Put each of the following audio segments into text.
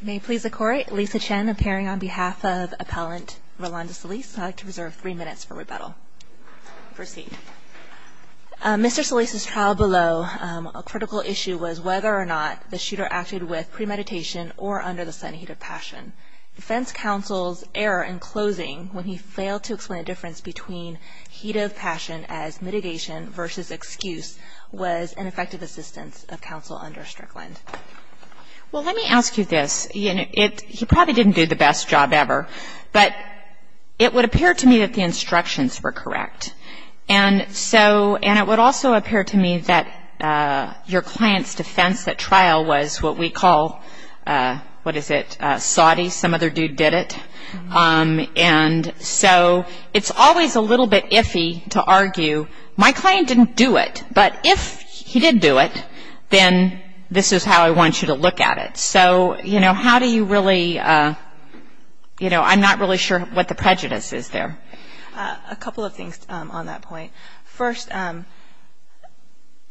May it please the Court, Lisa Chen appearing on behalf of Appellant Rolando Solis. I'd like to reserve three minutes for rebuttal. Proceed. Mr. Solis' trial below, a critical issue was whether or not the shooter acted with premeditation or under the sun heat of passion. Defense counsel's error in closing when he failed to explain the difference between heat of passion as mitigation versus excuse was ineffective assistance of counsel under Strickland. Well, let me ask you this. He probably didn't do the best job ever, but it would appear to me that the instructions were correct. And it would also appear to me that your client's defense at trial was what we call, what is it, soddy, some other dude did it. And so it's always a little bit iffy to argue, my client didn't do it, but if he did do it, then this is how I want you to look at it. So, you know, how do you really, you know, I'm not really sure what the prejudice is there. A couple of things on that point. First,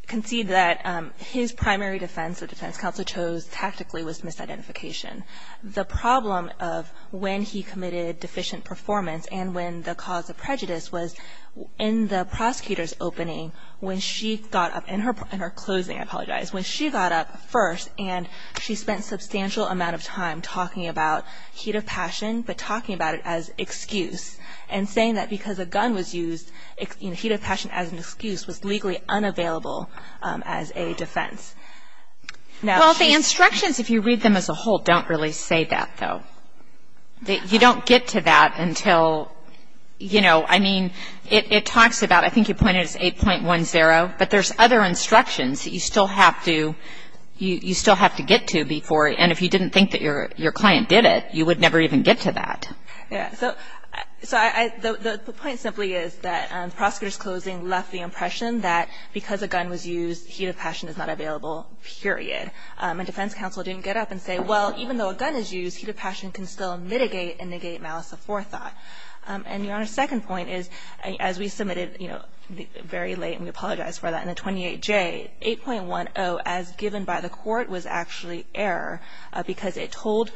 concede that his primary defense that defense counsel chose tactically was misidentification. The problem of when he committed deficient performance and when the cause of prejudice was in the prosecutor's opening when she got up, in her closing, I apologize, when she got up first and she spent substantial amount of time talking about heat of passion, but talking about it as excuse and saying that because a gun was used, heat of passion as an excuse was legally unavailable as a defense. Well, the instructions, if you read them as a whole, don't really say that, though. You don't get to that until, you know, I mean, it talks about, I think you pointed as 8.10, but there's other instructions that you still have to get to before, and if you didn't think that your client did it, you would never even get to that. Yeah. So the point simply is that the prosecutor's closing left the impression that because a gun was used, heat of passion is not available, period, and defense counsel didn't get up and say, well, even though a gun is used, heat of passion can still mitigate and negate malice of forethought. And Your Honor, second point is, as we submitted, you know, very late, and we apologize for that, in the 28J, 8.10, as given by the court, was actually error because it told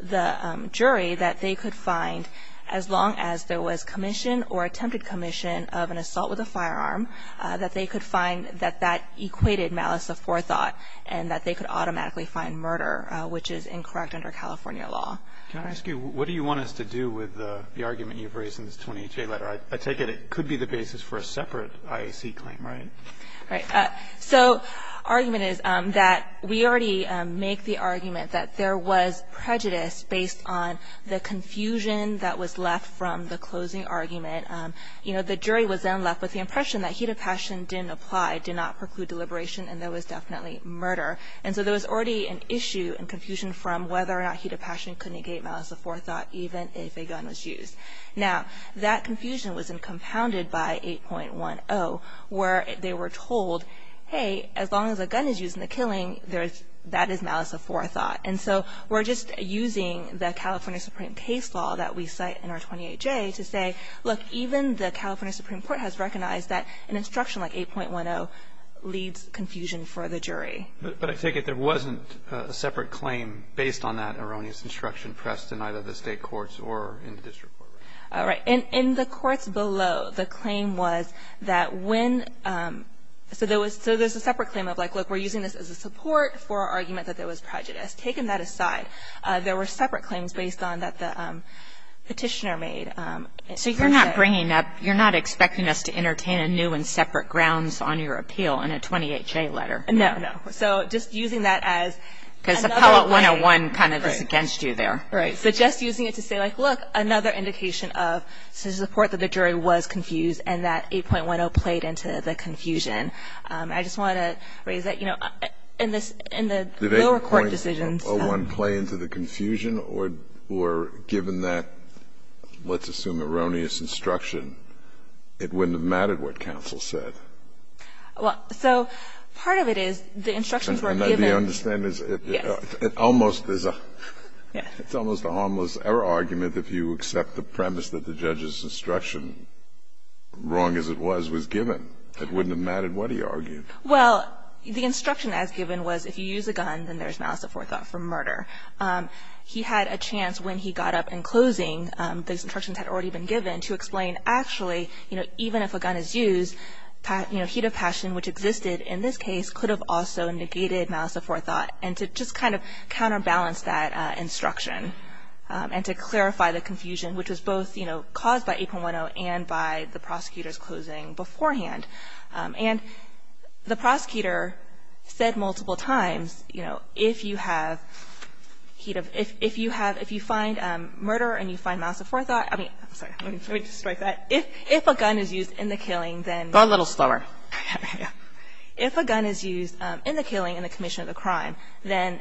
the jury that they could find, as long as there was commission or attempted commission of an assault with a firearm, that they could find that that equated malice of forethought and that they could automatically find murder, which is incorrect under California law. Can I ask you, what do you want us to do with the argument you've raised in this 28J letter? I take it it could be the basis for a separate IAC claim, right? Right. So argument is that we already make the argument that there was prejudice based on the confusion that was left from the closing argument. You know, the jury was then left with the impression that heat of passion didn't apply, did not preclude deliberation, and there was definitely murder. And so there was already an issue and confusion from whether or not heat of passion could negate malice of forethought, even if a gun was used. Now, that confusion was then compounded by 8.10, where they were told, hey, as long as a gun is used in the killing, that is malice of forethought. And so we're just using the California Supreme case law that we cite in our 28J to say, look, even the California Supreme Court has recognized that an instruction like 8.10 leads confusion for the jury. But I take it there wasn't a separate claim based on that erroneous instruction pressed in either the State courts or in the district court. All right. In the courts below, the claim was that when so there was so there's a separate claim of like, look, we're using this as a support for our argument that there was prejudice. Taken that aside, there were separate claims based on that the petitioner made. So you're not bringing up you're not expecting us to entertain a new and separate grounds on your appeal in a 28J letter. No, no. So just using that as. Because Appellate 101 kind of is against you there. Right. So just using it to say, like, look, another indication of support that the jury was confused and that 8.10 played into the confusion. And I just want to raise that, you know, in the lower court decisions. Did 8.01 play into the confusion or given that, let's assume, erroneous instruction, it wouldn't have mattered what counsel said? Well, so part of it is the instructions were given. And I do understand it's almost a harmless error argument if you accept the premise that the judge's instruction, wrong as it was, was given. It wouldn't have mattered what he argued. Well, the instruction as given was if you use a gun, then there's malice aforethought for murder. He had a chance when he got up in closing, those instructions had already been given, to explain actually, you know, even if a gun is used, you know, heat of passion, which existed in this case, could have also negated malice aforethought and to just kind of counterbalance that instruction and to clarify the confusion, which was both, you know, caused by 8.10 and by the prosecutor's closing beforehand. And the prosecutor said multiple times, you know, if you have heat of – if you have – if you find murder and you find malice aforethought – I mean, I'm sorry. Let me just strike that. If a gun is used in the killing, then – Go a little slower. If a gun is used in the killing in the commission of the crime, then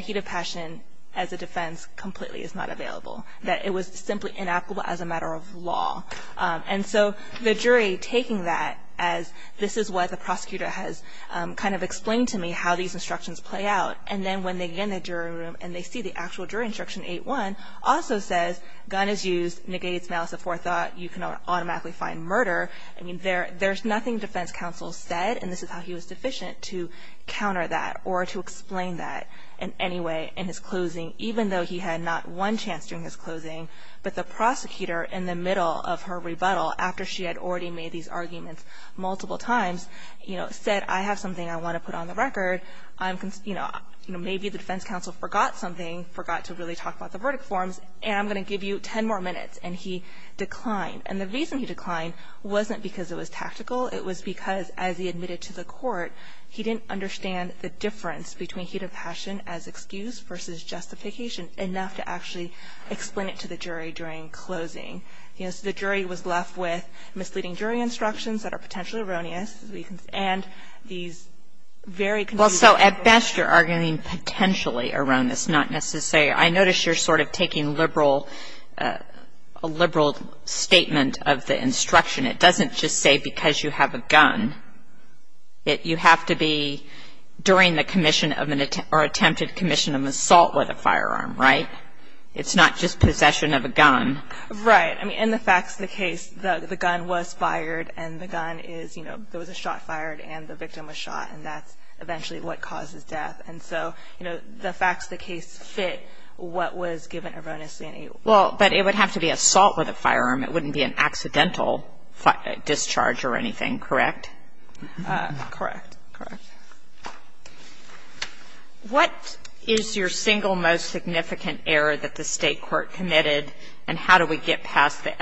heat of passion as a defense completely is not available. That it was simply inapplicable as a matter of law. And so the jury taking that as this is what the prosecutor has kind of explained to me, how these instructions play out, and then when they get in the jury room and they see the actual jury instruction, 8.1, also says gun is used, negates malice aforethought, you can automatically find murder. I mean, there's nothing defense counsel said, and this is how he was sufficient to counter that or to explain that in any way in his closing, even though he had not one chance during his closing, but the prosecutor in the middle of her rebuttal, after she had already made these arguments multiple times, you know, said I have something I want to put on the record. I'm – you know, maybe the defense counsel forgot something, forgot to really talk about the verdict forms, and I'm going to give you ten more minutes, and he declined. And the reason he declined wasn't because it was tactical. It was because as he admitted to the court, he didn't understand the difference between heat of passion as excuse versus justification enough to actually explain it to the jury during closing. You know, so the jury was left with misleading jury instructions that are potentially erroneous, and these very consistent – Well, so at best you're arguing potentially erroneous, not necessarily – I notice you're sort of taking liberal – a liberal statement of the instruction. It doesn't just say because you have a gun. You have to be during the commission of an – or attempted commission of an assault with a firearm, right? It's not just possession of a gun. Right. I mean, in the facts of the case, the gun was fired, and the gun is, you know, there was a shot fired, and the victim was shot, and that's eventually what causes death. And so, you know, the facts of the case fit what was given erroneously. Well, but it would have to be assault with a firearm. It wouldn't be an accidental discharge or anything, correct? Correct. Correct. What is your single most significant error that the State court committed, and how do we get past the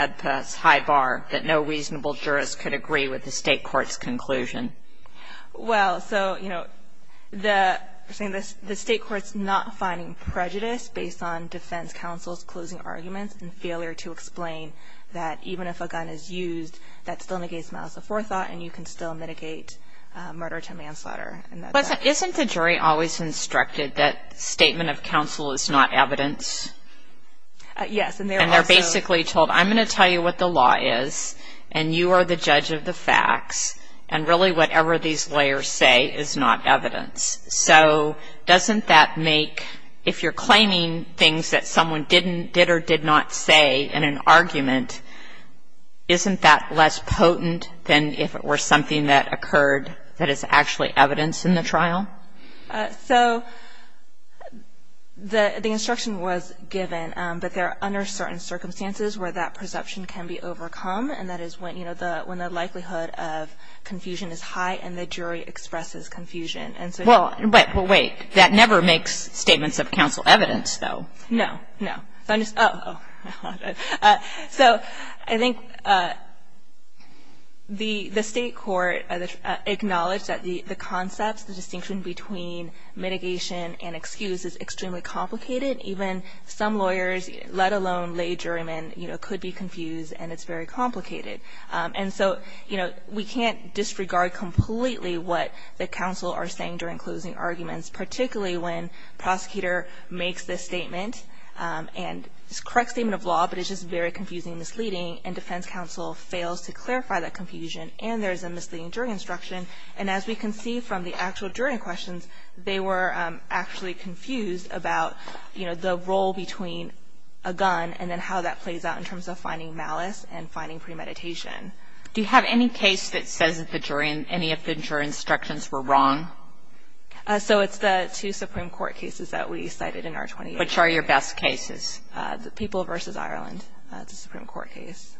high bar that no reasonable jurist could agree with the State court's conclusion? Well, so, you know, the State court's not finding prejudice based on defense counsel's closing arguments and failure to explain that even if a gun is used, that still negates the malice of forethought, and you can still mitigate murder to manslaughter. Isn't the jury always instructed that statement of counsel is not evidence? Yes, and they're also – And they're basically told, I'm going to tell you what the law is, and you are the judge of the facts, and really whatever these layers say is not evidence. So doesn't that make – if you're claiming things that someone didn't – did or did not say in an argument, isn't that less potent than if it were something that occurred that is actually evidence in the trial? So the instruction was given, but they're under certain circumstances where that perception can be overcome, and that is when, you know, when the likelihood of confusion is high and the jury expresses confusion. Well, wait. That never makes statements of counsel evidence, though. No, no. Oh. So I think the State court acknowledged that the concepts, the distinction between mitigation and excuse is extremely complicated. Even some lawyers, let alone lay jurymen, could be confused, and it's very complicated. And so, you know, we can't disregard completely what the counsel are saying during closing arguments, particularly when the prosecutor makes this statement, and it's a correct statement of law, but it's just very confusing and misleading, and defense counsel fails to clarify that confusion, and there's a misleading jury instruction. And as we can see from the actual jury questions, they were actually confused about, you know, the role between a gun and then how that plays out in terms of finding malice and finding premeditation. Do you have any case that says that any of the jury instructions were wrong? So it's the two Supreme Court cases that we cited in our 28. Which are your best cases? The people versus Ireland, the Supreme Court case.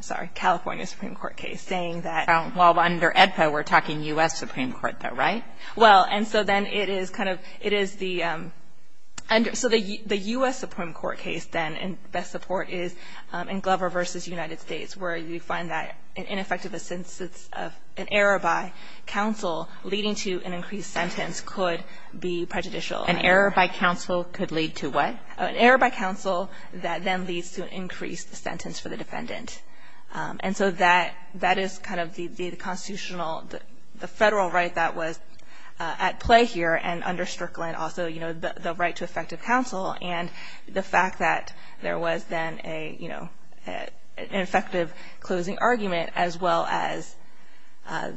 Sorry, California Supreme Court case, saying that. Well, under AEDPA, we're talking U.S. Supreme Court, though, right? Well, and so then it is kind of, it is the, so the U.S. Supreme Court case, then, in best support is in Glover v. United States, where you find that an ineffective assistance of an error by counsel leading to an increased sentence could be prejudicial. An error by counsel could lead to what? An error by counsel that then leads to an increased sentence for the defendant. And so that, that is kind of the constitutional, the Federal right that was at play here and under Strickland, also, you know, the right to effective counsel. And the fact that there was then a, you know, an effective closing argument, as well as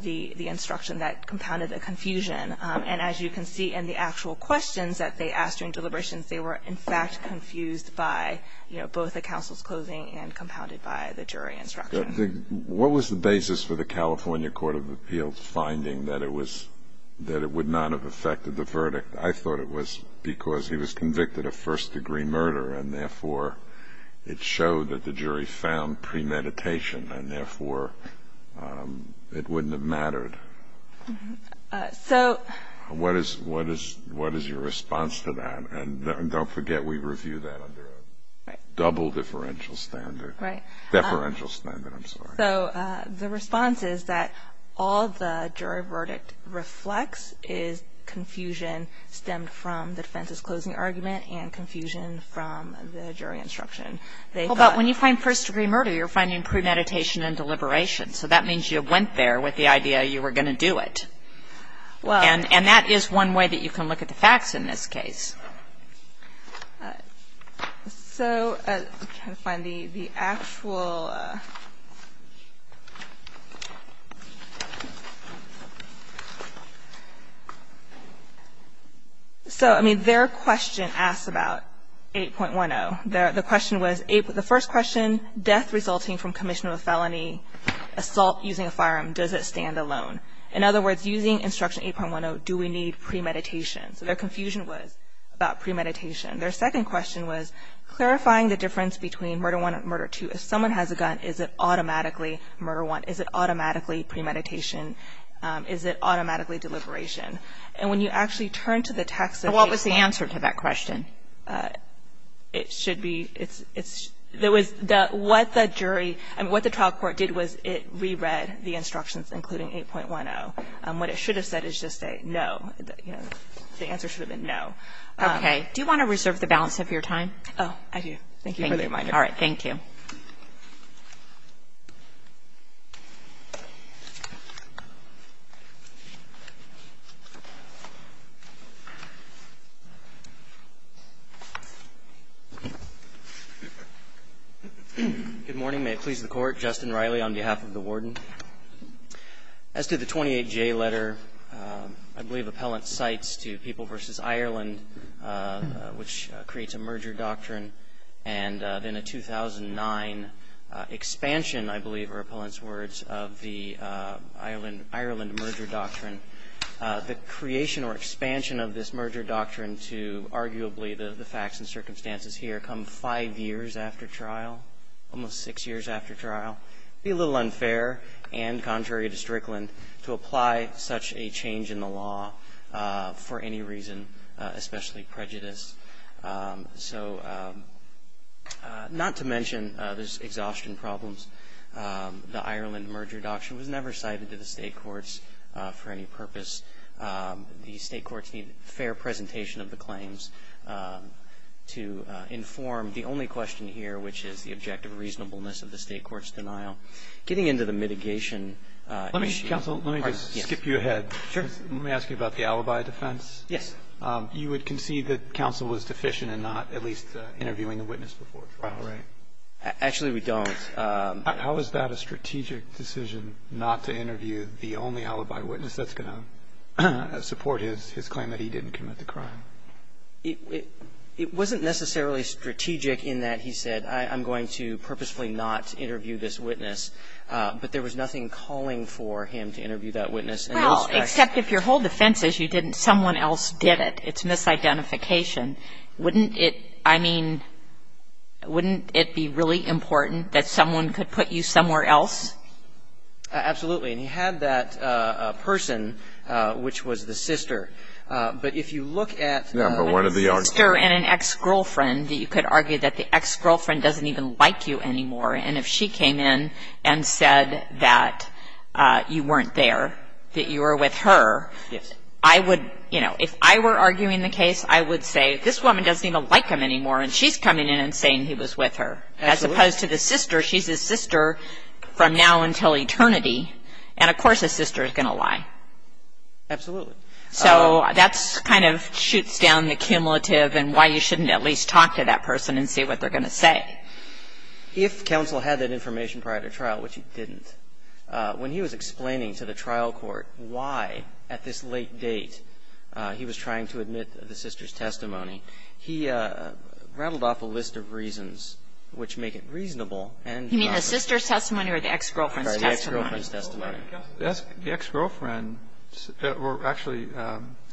the instruction that compounded the confusion. And as you can see in the actual questions that they asked during deliberations, they were, in fact, confused by, you know, both the counsel's closing and compounded by the jury instruction. What was the basis for the California Court of Appeals finding that it was, that it would not have affected the verdict? I thought it was because he was convicted of first degree murder, and therefore it showed that the jury found premeditation, and therefore it wouldn't have mattered. So. What is, what is, what is your response to that? And don't forget we review that under a double differential standard. Right. Differential standard, I'm sorry. So the response is that all the jury verdict reflects is confusion stemmed from the defense's closing argument and confusion from the jury instruction. They thought. Well, but when you find first degree murder, you're finding premeditation and deliberation. So that means you went there with the idea you were going to do it. Well. And that is one way that you can look at the facts in this case. All right. So I'm trying to find the actual. So, I mean, their question asks about 8.10. The question was, the first question, death resulting from commission of a felony, assault using a firearm, does it stand alone? In other words, using instruction 8.10, do we need premeditation? So their confusion was about premeditation. Their second question was clarifying the difference between murder one and murder two. If someone has a gun, is it automatically murder one? Is it automatically premeditation? Is it automatically deliberation? And when you actually turn to the text. What was the answer to that question? It should be, it's, there was, what the jury, I mean, what the trial court did was it reread the instructions including 8.10. What it should have said is just say no. The answer should have been no. Okay. Do you want to reserve the balance of your time? Oh, I do. Thank you for the reminder. All right. Thank you. Good morning. May it please the Court. Justin Riley on behalf of the Warden. As to the 28J letter, I believe Appellant cites to People v. Ireland, which creates a merger doctrine, and then a 2009 expansion, I believe are Appellant's words, of the Ireland merger doctrine. The creation or expansion of this merger doctrine to arguably the facts and circumstances here come five years after trial, almost six years after trial. It would be a little unfair and contrary to Strickland to apply such a change in the law for any reason, especially prejudice. So not to mention there's exhaustion problems. The Ireland merger doctrine was never cited to the state courts for any purpose. The state courts need fair presentation of the claims to inform the only question here, which is the objective reasonableness of the state court's denial. Getting into the mitigation issue. Let me, counsel, let me just skip you ahead. Sure. Let me ask you about the alibi defense. Yes. You would concede that counsel was deficient in not at least interviewing the witness before trial. Right. Actually, we don't. How is that a strategic decision, not to interview the only alibi witness that's going to support his claim that he didn't commit the crime? It wasn't necessarily strategic in that he said I'm going to purposefully not interview this witness. But there was nothing calling for him to interview that witness. Well, except if your whole defense is you didn't, someone else did it. It's misidentification. Wouldn't it, I mean, wouldn't it be really important that someone could put you somewhere else? Absolutely. And he had that person, which was the sister. But if you look at the sister and an ex-girlfriend, you could argue that the ex-girlfriend doesn't even like you anymore. And if she came in and said that you weren't there, that you were with her, I would, you know, if I were arguing the case, I would say this woman doesn't even like him anymore. And she's coming in and saying he was with her. Absolutely. As opposed to the sister, she's his sister from now until eternity. And, of course, a sister is going to lie. Absolutely. So that's kind of shoots down the cumulative and why you shouldn't at least talk to that person and see what they're going to say. If counsel had that information prior to trial, which he didn't, when he was explaining to the trial court why at this late date he was trying to admit the sister's testimony, he rattled off a list of reasons which make it reasonable. You mean the sister's testimony or the ex-girlfriend's testimony? The ex-girlfriend's testimony. Actually,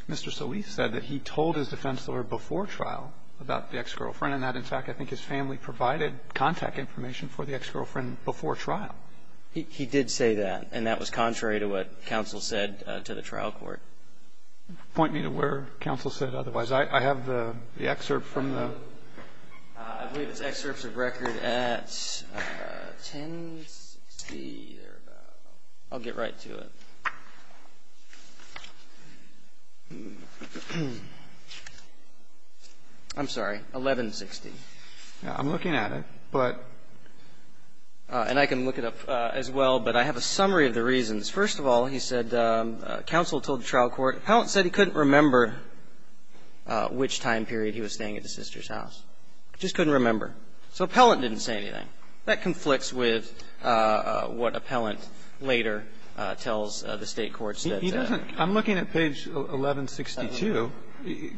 Mr. Solis said that he told his defense lawyer before trial about the ex-girlfriend and that, in fact, I think his family provided contact information for the ex-girlfriend before trial. He did say that, and that was contrary to what counsel said to the trial court. Point me to where counsel said otherwise. I have the excerpt from the ---- I believe it's excerpts of record at 1060 or about. I'll get right to it. I'm sorry. 1160. I'm looking at it, but ---- And I can look it up as well, but I have a summary of the reasons. First of all, he said counsel told the trial court Appellant said he couldn't remember which time period he was staying at the sister's house. Just couldn't remember. So Appellant didn't say anything. That conflicts with what Appellant later tells the State courts that ---- He doesn't. I'm looking at page 1162.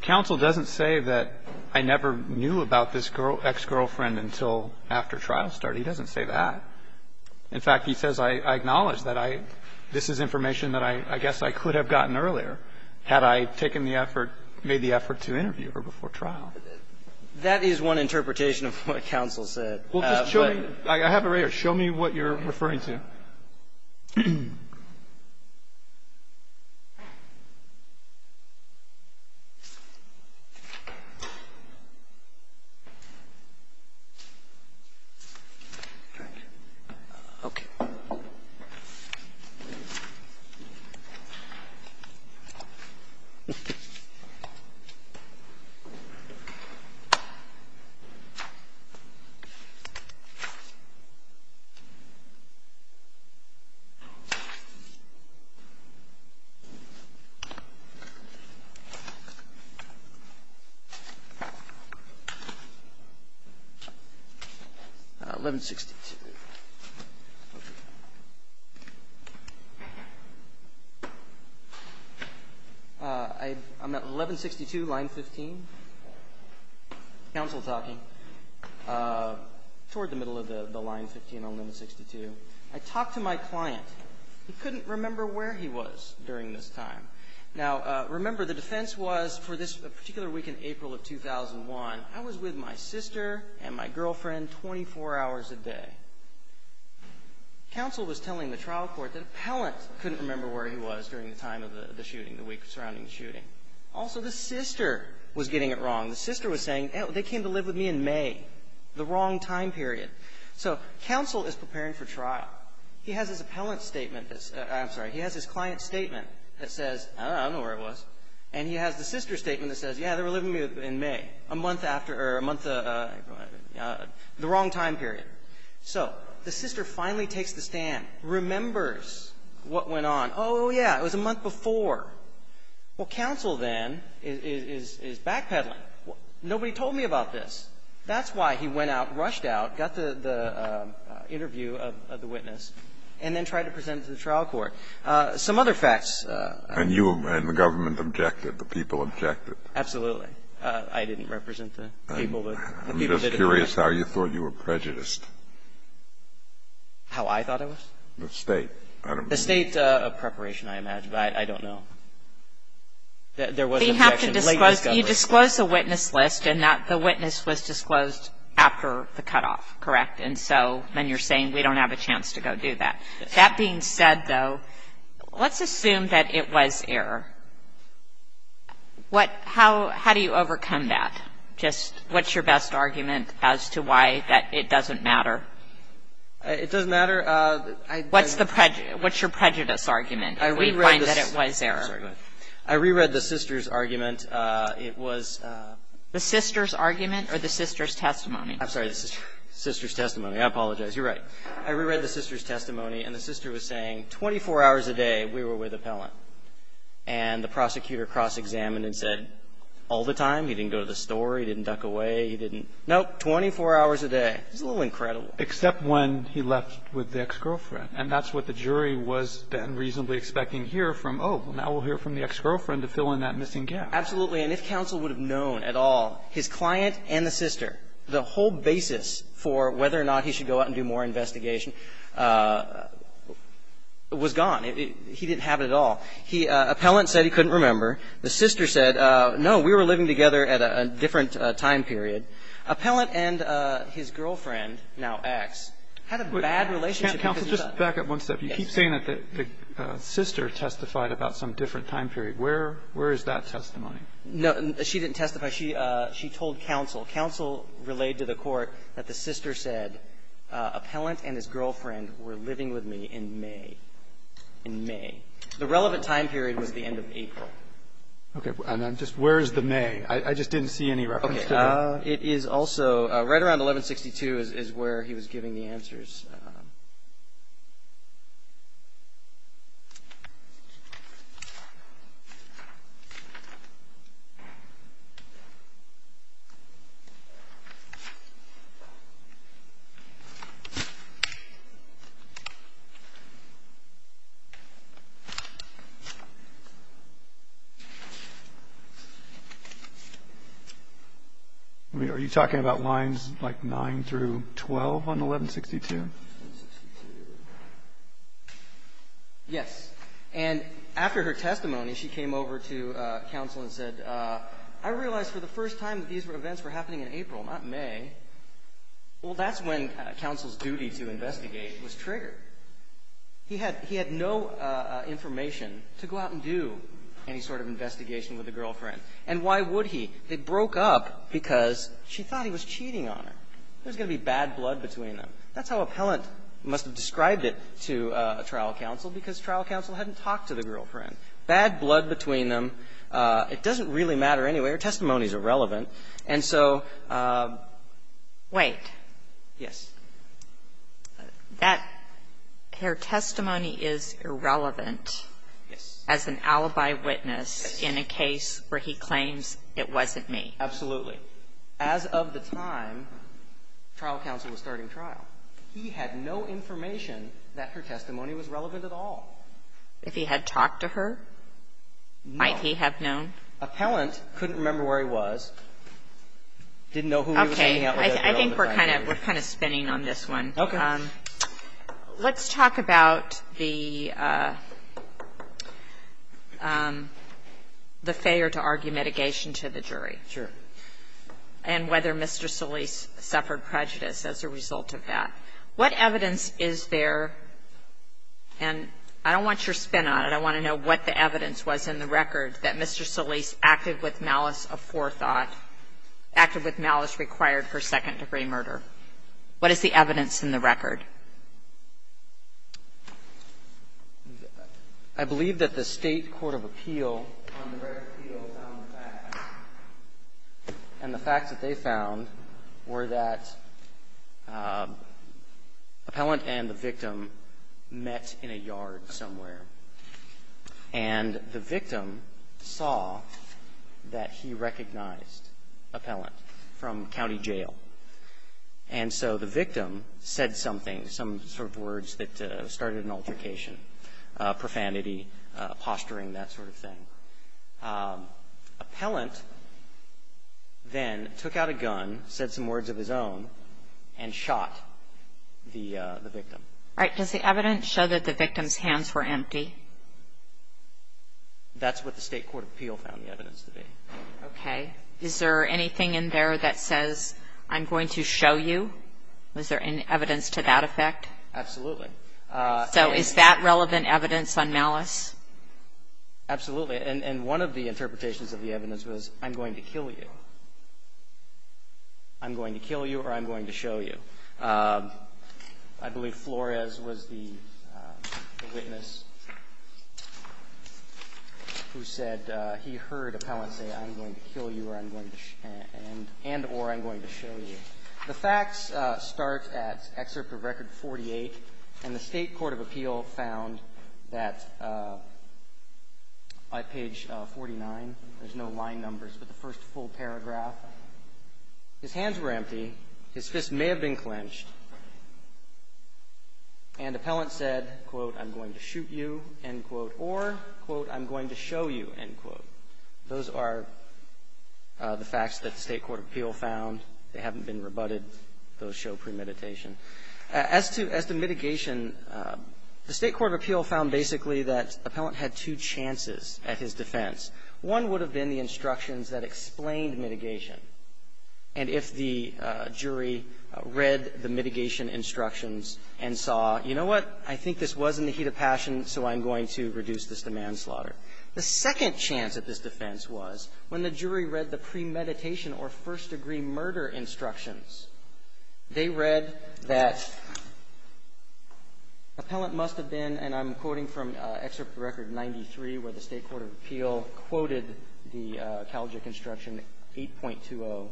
Counsel doesn't say that I never knew about this ex-girlfriend until after trial started. He doesn't say that. In fact, he says I acknowledge that I ---- this is information that I guess I could have gotten earlier had I taken the effort, made the effort to interview her before trial. That is one interpretation of what counsel said. Well, just show me. I have it right here. Show me what you're referring to. Okay. 1162. I'm at 1162, line 15. Counsel talking. Toward the middle of the line 15 on line 62. I talked to my client. He couldn't remember where he was during this time. Now, remember, the defense was for this particular week in April of 2001, I was with my sister and my girlfriend 24 hours a day. Counsel was telling the trial court that Appellant couldn't remember where he was during the time of the shooting, the week surrounding the shooting. Also, the sister was getting it wrong. The sister was saying, they came to live with me in May, the wrong time period. So counsel is preparing for trial. He has his Appellant statement that's ---- I'm sorry. He has his client's statement that says, I don't know where I was. And he has the sister's statement that says, yeah, they were living with me in May, a month after or a month of the wrong time period. So the sister finally takes the stand, remembers what went on. Oh, yeah, it was a month before. Well, counsel then is backpedaling. Nobody told me about this. That's why he went out, rushed out, got the interview of the witness, and then tried to present it to the trial court. Some other facts. And you and the government objected. The people objected. Absolutely. I didn't represent the people that objected. I'm just curious how you thought you were prejudiced. How I thought I was? The state. The state preparation, I imagine. I don't know. There was an objection. You disclosed the witness list, and the witness was disclosed after the cutoff, correct? And so then you're saying we don't have a chance to go do that. That being said, though, let's assume that it was error. How do you overcome that? Just what's your best argument as to why it doesn't matter? It doesn't matter. What's your prejudice argument if we find that it was error? I reread the sister's argument. It was the sister's argument or the sister's testimony? I'm sorry, the sister's testimony. I apologize. You're right. I reread the sister's testimony, and the sister was saying 24 hours a day we were with And the prosecutor cross-examined and said all the time. He didn't go to the store. He didn't duck away. He didn't. Nope, 24 hours a day. It's a little incredible. Except when he left with the ex-girlfriend. And that's what the jury was then reasonably expecting here from, oh, now we'll hear from the ex-girlfriend to fill in that missing gap. Absolutely. And if counsel would have known at all, his client and the sister, the whole basis for whether or not he should go out and do more investigation was gone. He didn't have it at all. Appellant said he couldn't remember. The sister said, no, we were living together at a different time period. Appellant and his girlfriend, now ex, had a bad relationship. Counsel, just back up one step. You keep saying that the sister testified about some different time period. Where is that testimony? No, she didn't testify. She told counsel. Counsel relayed to the court that the sister said, Appellant and his girlfriend were living with me in May. In May. The relevant time period was the end of April. Okay. And then just where is the May? I just didn't see any reference to that. Are you talking about lines like 9 through 12 on 1162? Yes. And after her testimony, she came over to counsel and said, I realized for the first time that these events were happening in April, not May. Well, that's when counsel's duty to investigate was triggered. He had no information to go out and do any sort of investigation with the girlfriend. And why would he? They broke up because she thought he was cheating on her. There was going to be bad blood between them. That's how Appellant must have described it to trial counsel, because trial counsel hadn't talked to the girlfriend. Bad blood between them. It doesn't really matter anyway. Her testimony is irrelevant. And so ---- Wait. Yes. That her testimony is irrelevant. Yes. As an alibi witness in a case where he claims it wasn't me. Absolutely. As of the time, trial counsel was starting trial. He had no information that her testimony was relevant at all. If he had talked to her, might he have known? Appellant couldn't remember where he was. Didn't know who he was hanging out with at the time. Okay. I think we're kind of spinning on this one. Okay. Let's talk about the failure to argue mitigation to the jury. Sure. And whether Mr. Solis suffered prejudice as a result of that. What evidence is there? And I don't want your spin on it. I want to know what the evidence was in the record that Mr. Solis acted with malice of forethought, acted with malice required for second-degree murder. What is the evidence in the record? I believe that the State Court of Appeal on the record of appeal found the facts. And the facts that they found were that appellant and the victim met in a yard somewhere, and the victim saw that he recognized appellant from county jail. And so the victim said something, some sort of words that started an altercation, profanity, posturing, that sort of thing. Appellant then took out a gun, said some words of his own, and shot the victim. All right. Does the evidence show that the victim's hands were empty? That's what the State Court of Appeal found the evidence to be. Okay. Is there anything in there that says, I'm going to show you? Was there any evidence to that effect? Absolutely. So is that relevant evidence on malice? Absolutely. And one of the interpretations of the evidence was, I'm going to kill you. I'm going to kill you or I'm going to show you. I believe Flores was the witness who said he heard appellant say, I'm going to kill you and or I'm going to show you. The facts start at Excerpt of Record 48. And the State Court of Appeal found that by page 49, there's no line numbers, but the first full paragraph, his hands were empty, his fists may have been clenched, and appellant said, quote, I'm going to shoot you, end quote, or, quote, I'm going to show you, end quote. Those are the facts that the State Court of Appeal found. They haven't been rebutted. Those show premeditation. As to mitigation, the State Court of Appeal found basically that appellant had two chances at his defense. One would have been the instructions that explained mitigation. And if the jury read the mitigation instructions and saw, you know what, I think this was in the heat of passion, so I'm going to reduce this to manslaughter. The second chance at this defense was when the jury read the premeditation or first degree murder instructions. They read that appellant must have been, and I'm quoting from Excerpt of Record 93, where the State Court of Appeal quoted the College of Construction 8.20.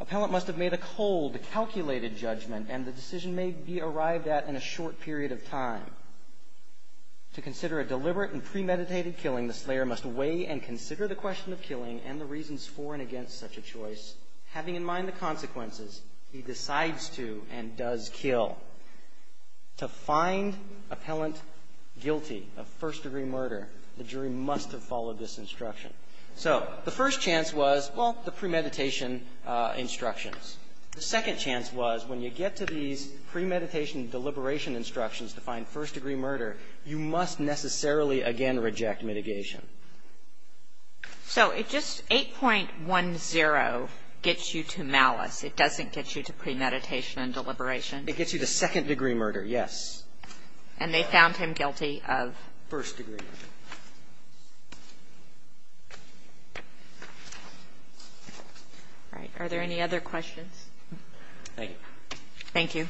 Appellant must have made a cold, calculated judgment, and the decision may be arrived at in a short period of time. To consider a deliberate and premeditated killing, the slayer must weigh and consider the question of killing and the reasons for and against such a choice, having in mind the consequences, he decides to and does kill. To find appellant guilty of first degree murder, the jury must have followed this instruction. So the first chance was, well, the premeditation instructions. The second chance was when you get to these premeditation and deliberation instructions to find first degree murder, you must necessarily again reject mitigation. So it just 8.10 gets you to malice. It doesn't get you to premeditation and deliberation. It gets you to second degree murder, yes. And they found him guilty of? First degree murder. All right. Are there any other questions? Thank you. Thank you.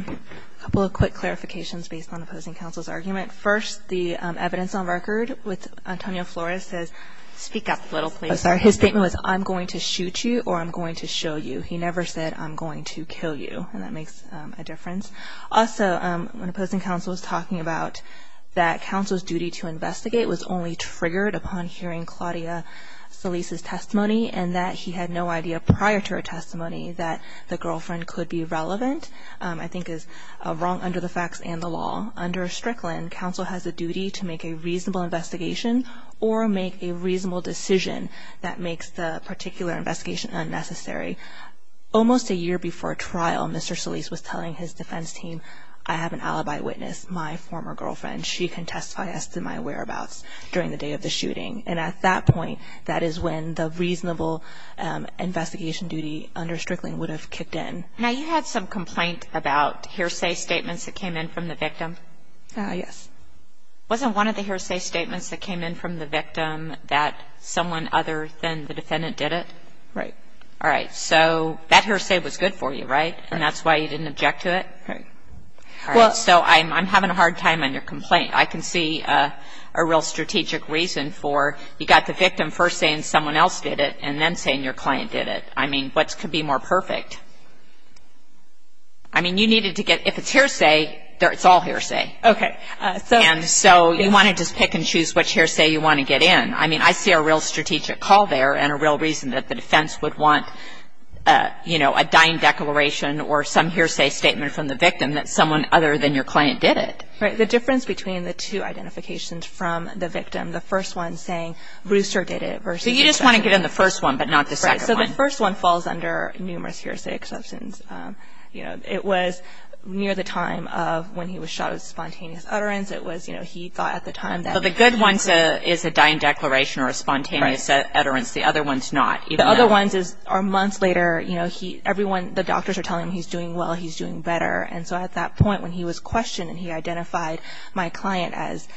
A couple of quick clarifications based on opposing counsel's argument. First, the evidence on record with Antonio Flores says speak up a little, please. I'm sorry. His statement was I'm going to shoot you or I'm going to show you. He never said I'm going to kill you, and that makes a difference. Also, when opposing counsel was talking about that counsel's duty to investigate was only triggered upon hearing Claudia Solis' testimony and that he had no idea prior to her testimony that the girlfriend could be relevant, I think is wrong under the facts and the law. Under Strickland, counsel has a duty to make a reasonable investigation or make a reasonable decision that makes the particular investigation unnecessary. Almost a year before trial, Mr. Solis was telling his defense team, I have an alibi witness, my former girlfriend. She can testify as to my whereabouts during the day of the shooting. And at that point, that is when the reasonable investigation duty under Strickland would have kicked in. Now, you had some complaint about hearsay statements that came in from the victim. Yes. Wasn't one of the hearsay statements that came in from the victim that someone other than the defendant did it? Right. All right. So that hearsay was good for you, right, and that's why you didn't object to it? Right. All right. So I'm having a hard time on your complaint. I can see a real strategic reason for you got the victim first saying someone else did it and then saying your client did it. I mean, what could be more perfect? I mean, you needed to get – if it's hearsay, it's all hearsay. Okay. And so you want to just pick and choose which hearsay you want to get in. I mean, I see a real strategic call there and a real reason that the defense would want, you know, a dying declaration or some hearsay statement from the victim that someone other than your client did it. Right. The difference between the two identifications from the victim, the first one saying Brewster did it versus the second one. So you just want to get in the first one but not the second one. Right. So the first one falls under numerous hearsay exceptions. You know, it was near the time of when he was shot with spontaneous utterance. It was, you know, he got at the time that he was shot. So the good one is a dying declaration or a spontaneous utterance. The other one is not. The other one is months later, you know, everyone – the doctors are telling him he's doing well, he's doing better. And so at that point when he was questioned and he identified my client as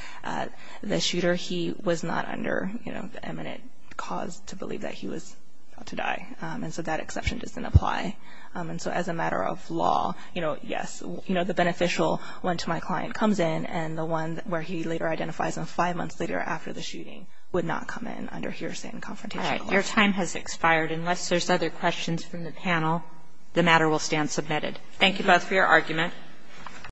the shooter, he was not under, you know, the eminent cause to believe that he was about to die. And so that exception doesn't apply. And so as a matter of law, you know, yes, you know, the beneficial one to my client comes in and the one where he later identifies him five months later after the shooting would not come in under hearsay and confrontation. All right. Your time has expired. Unless there's other questions from the panel, the matter will stand submitted. Thank you both for your argument.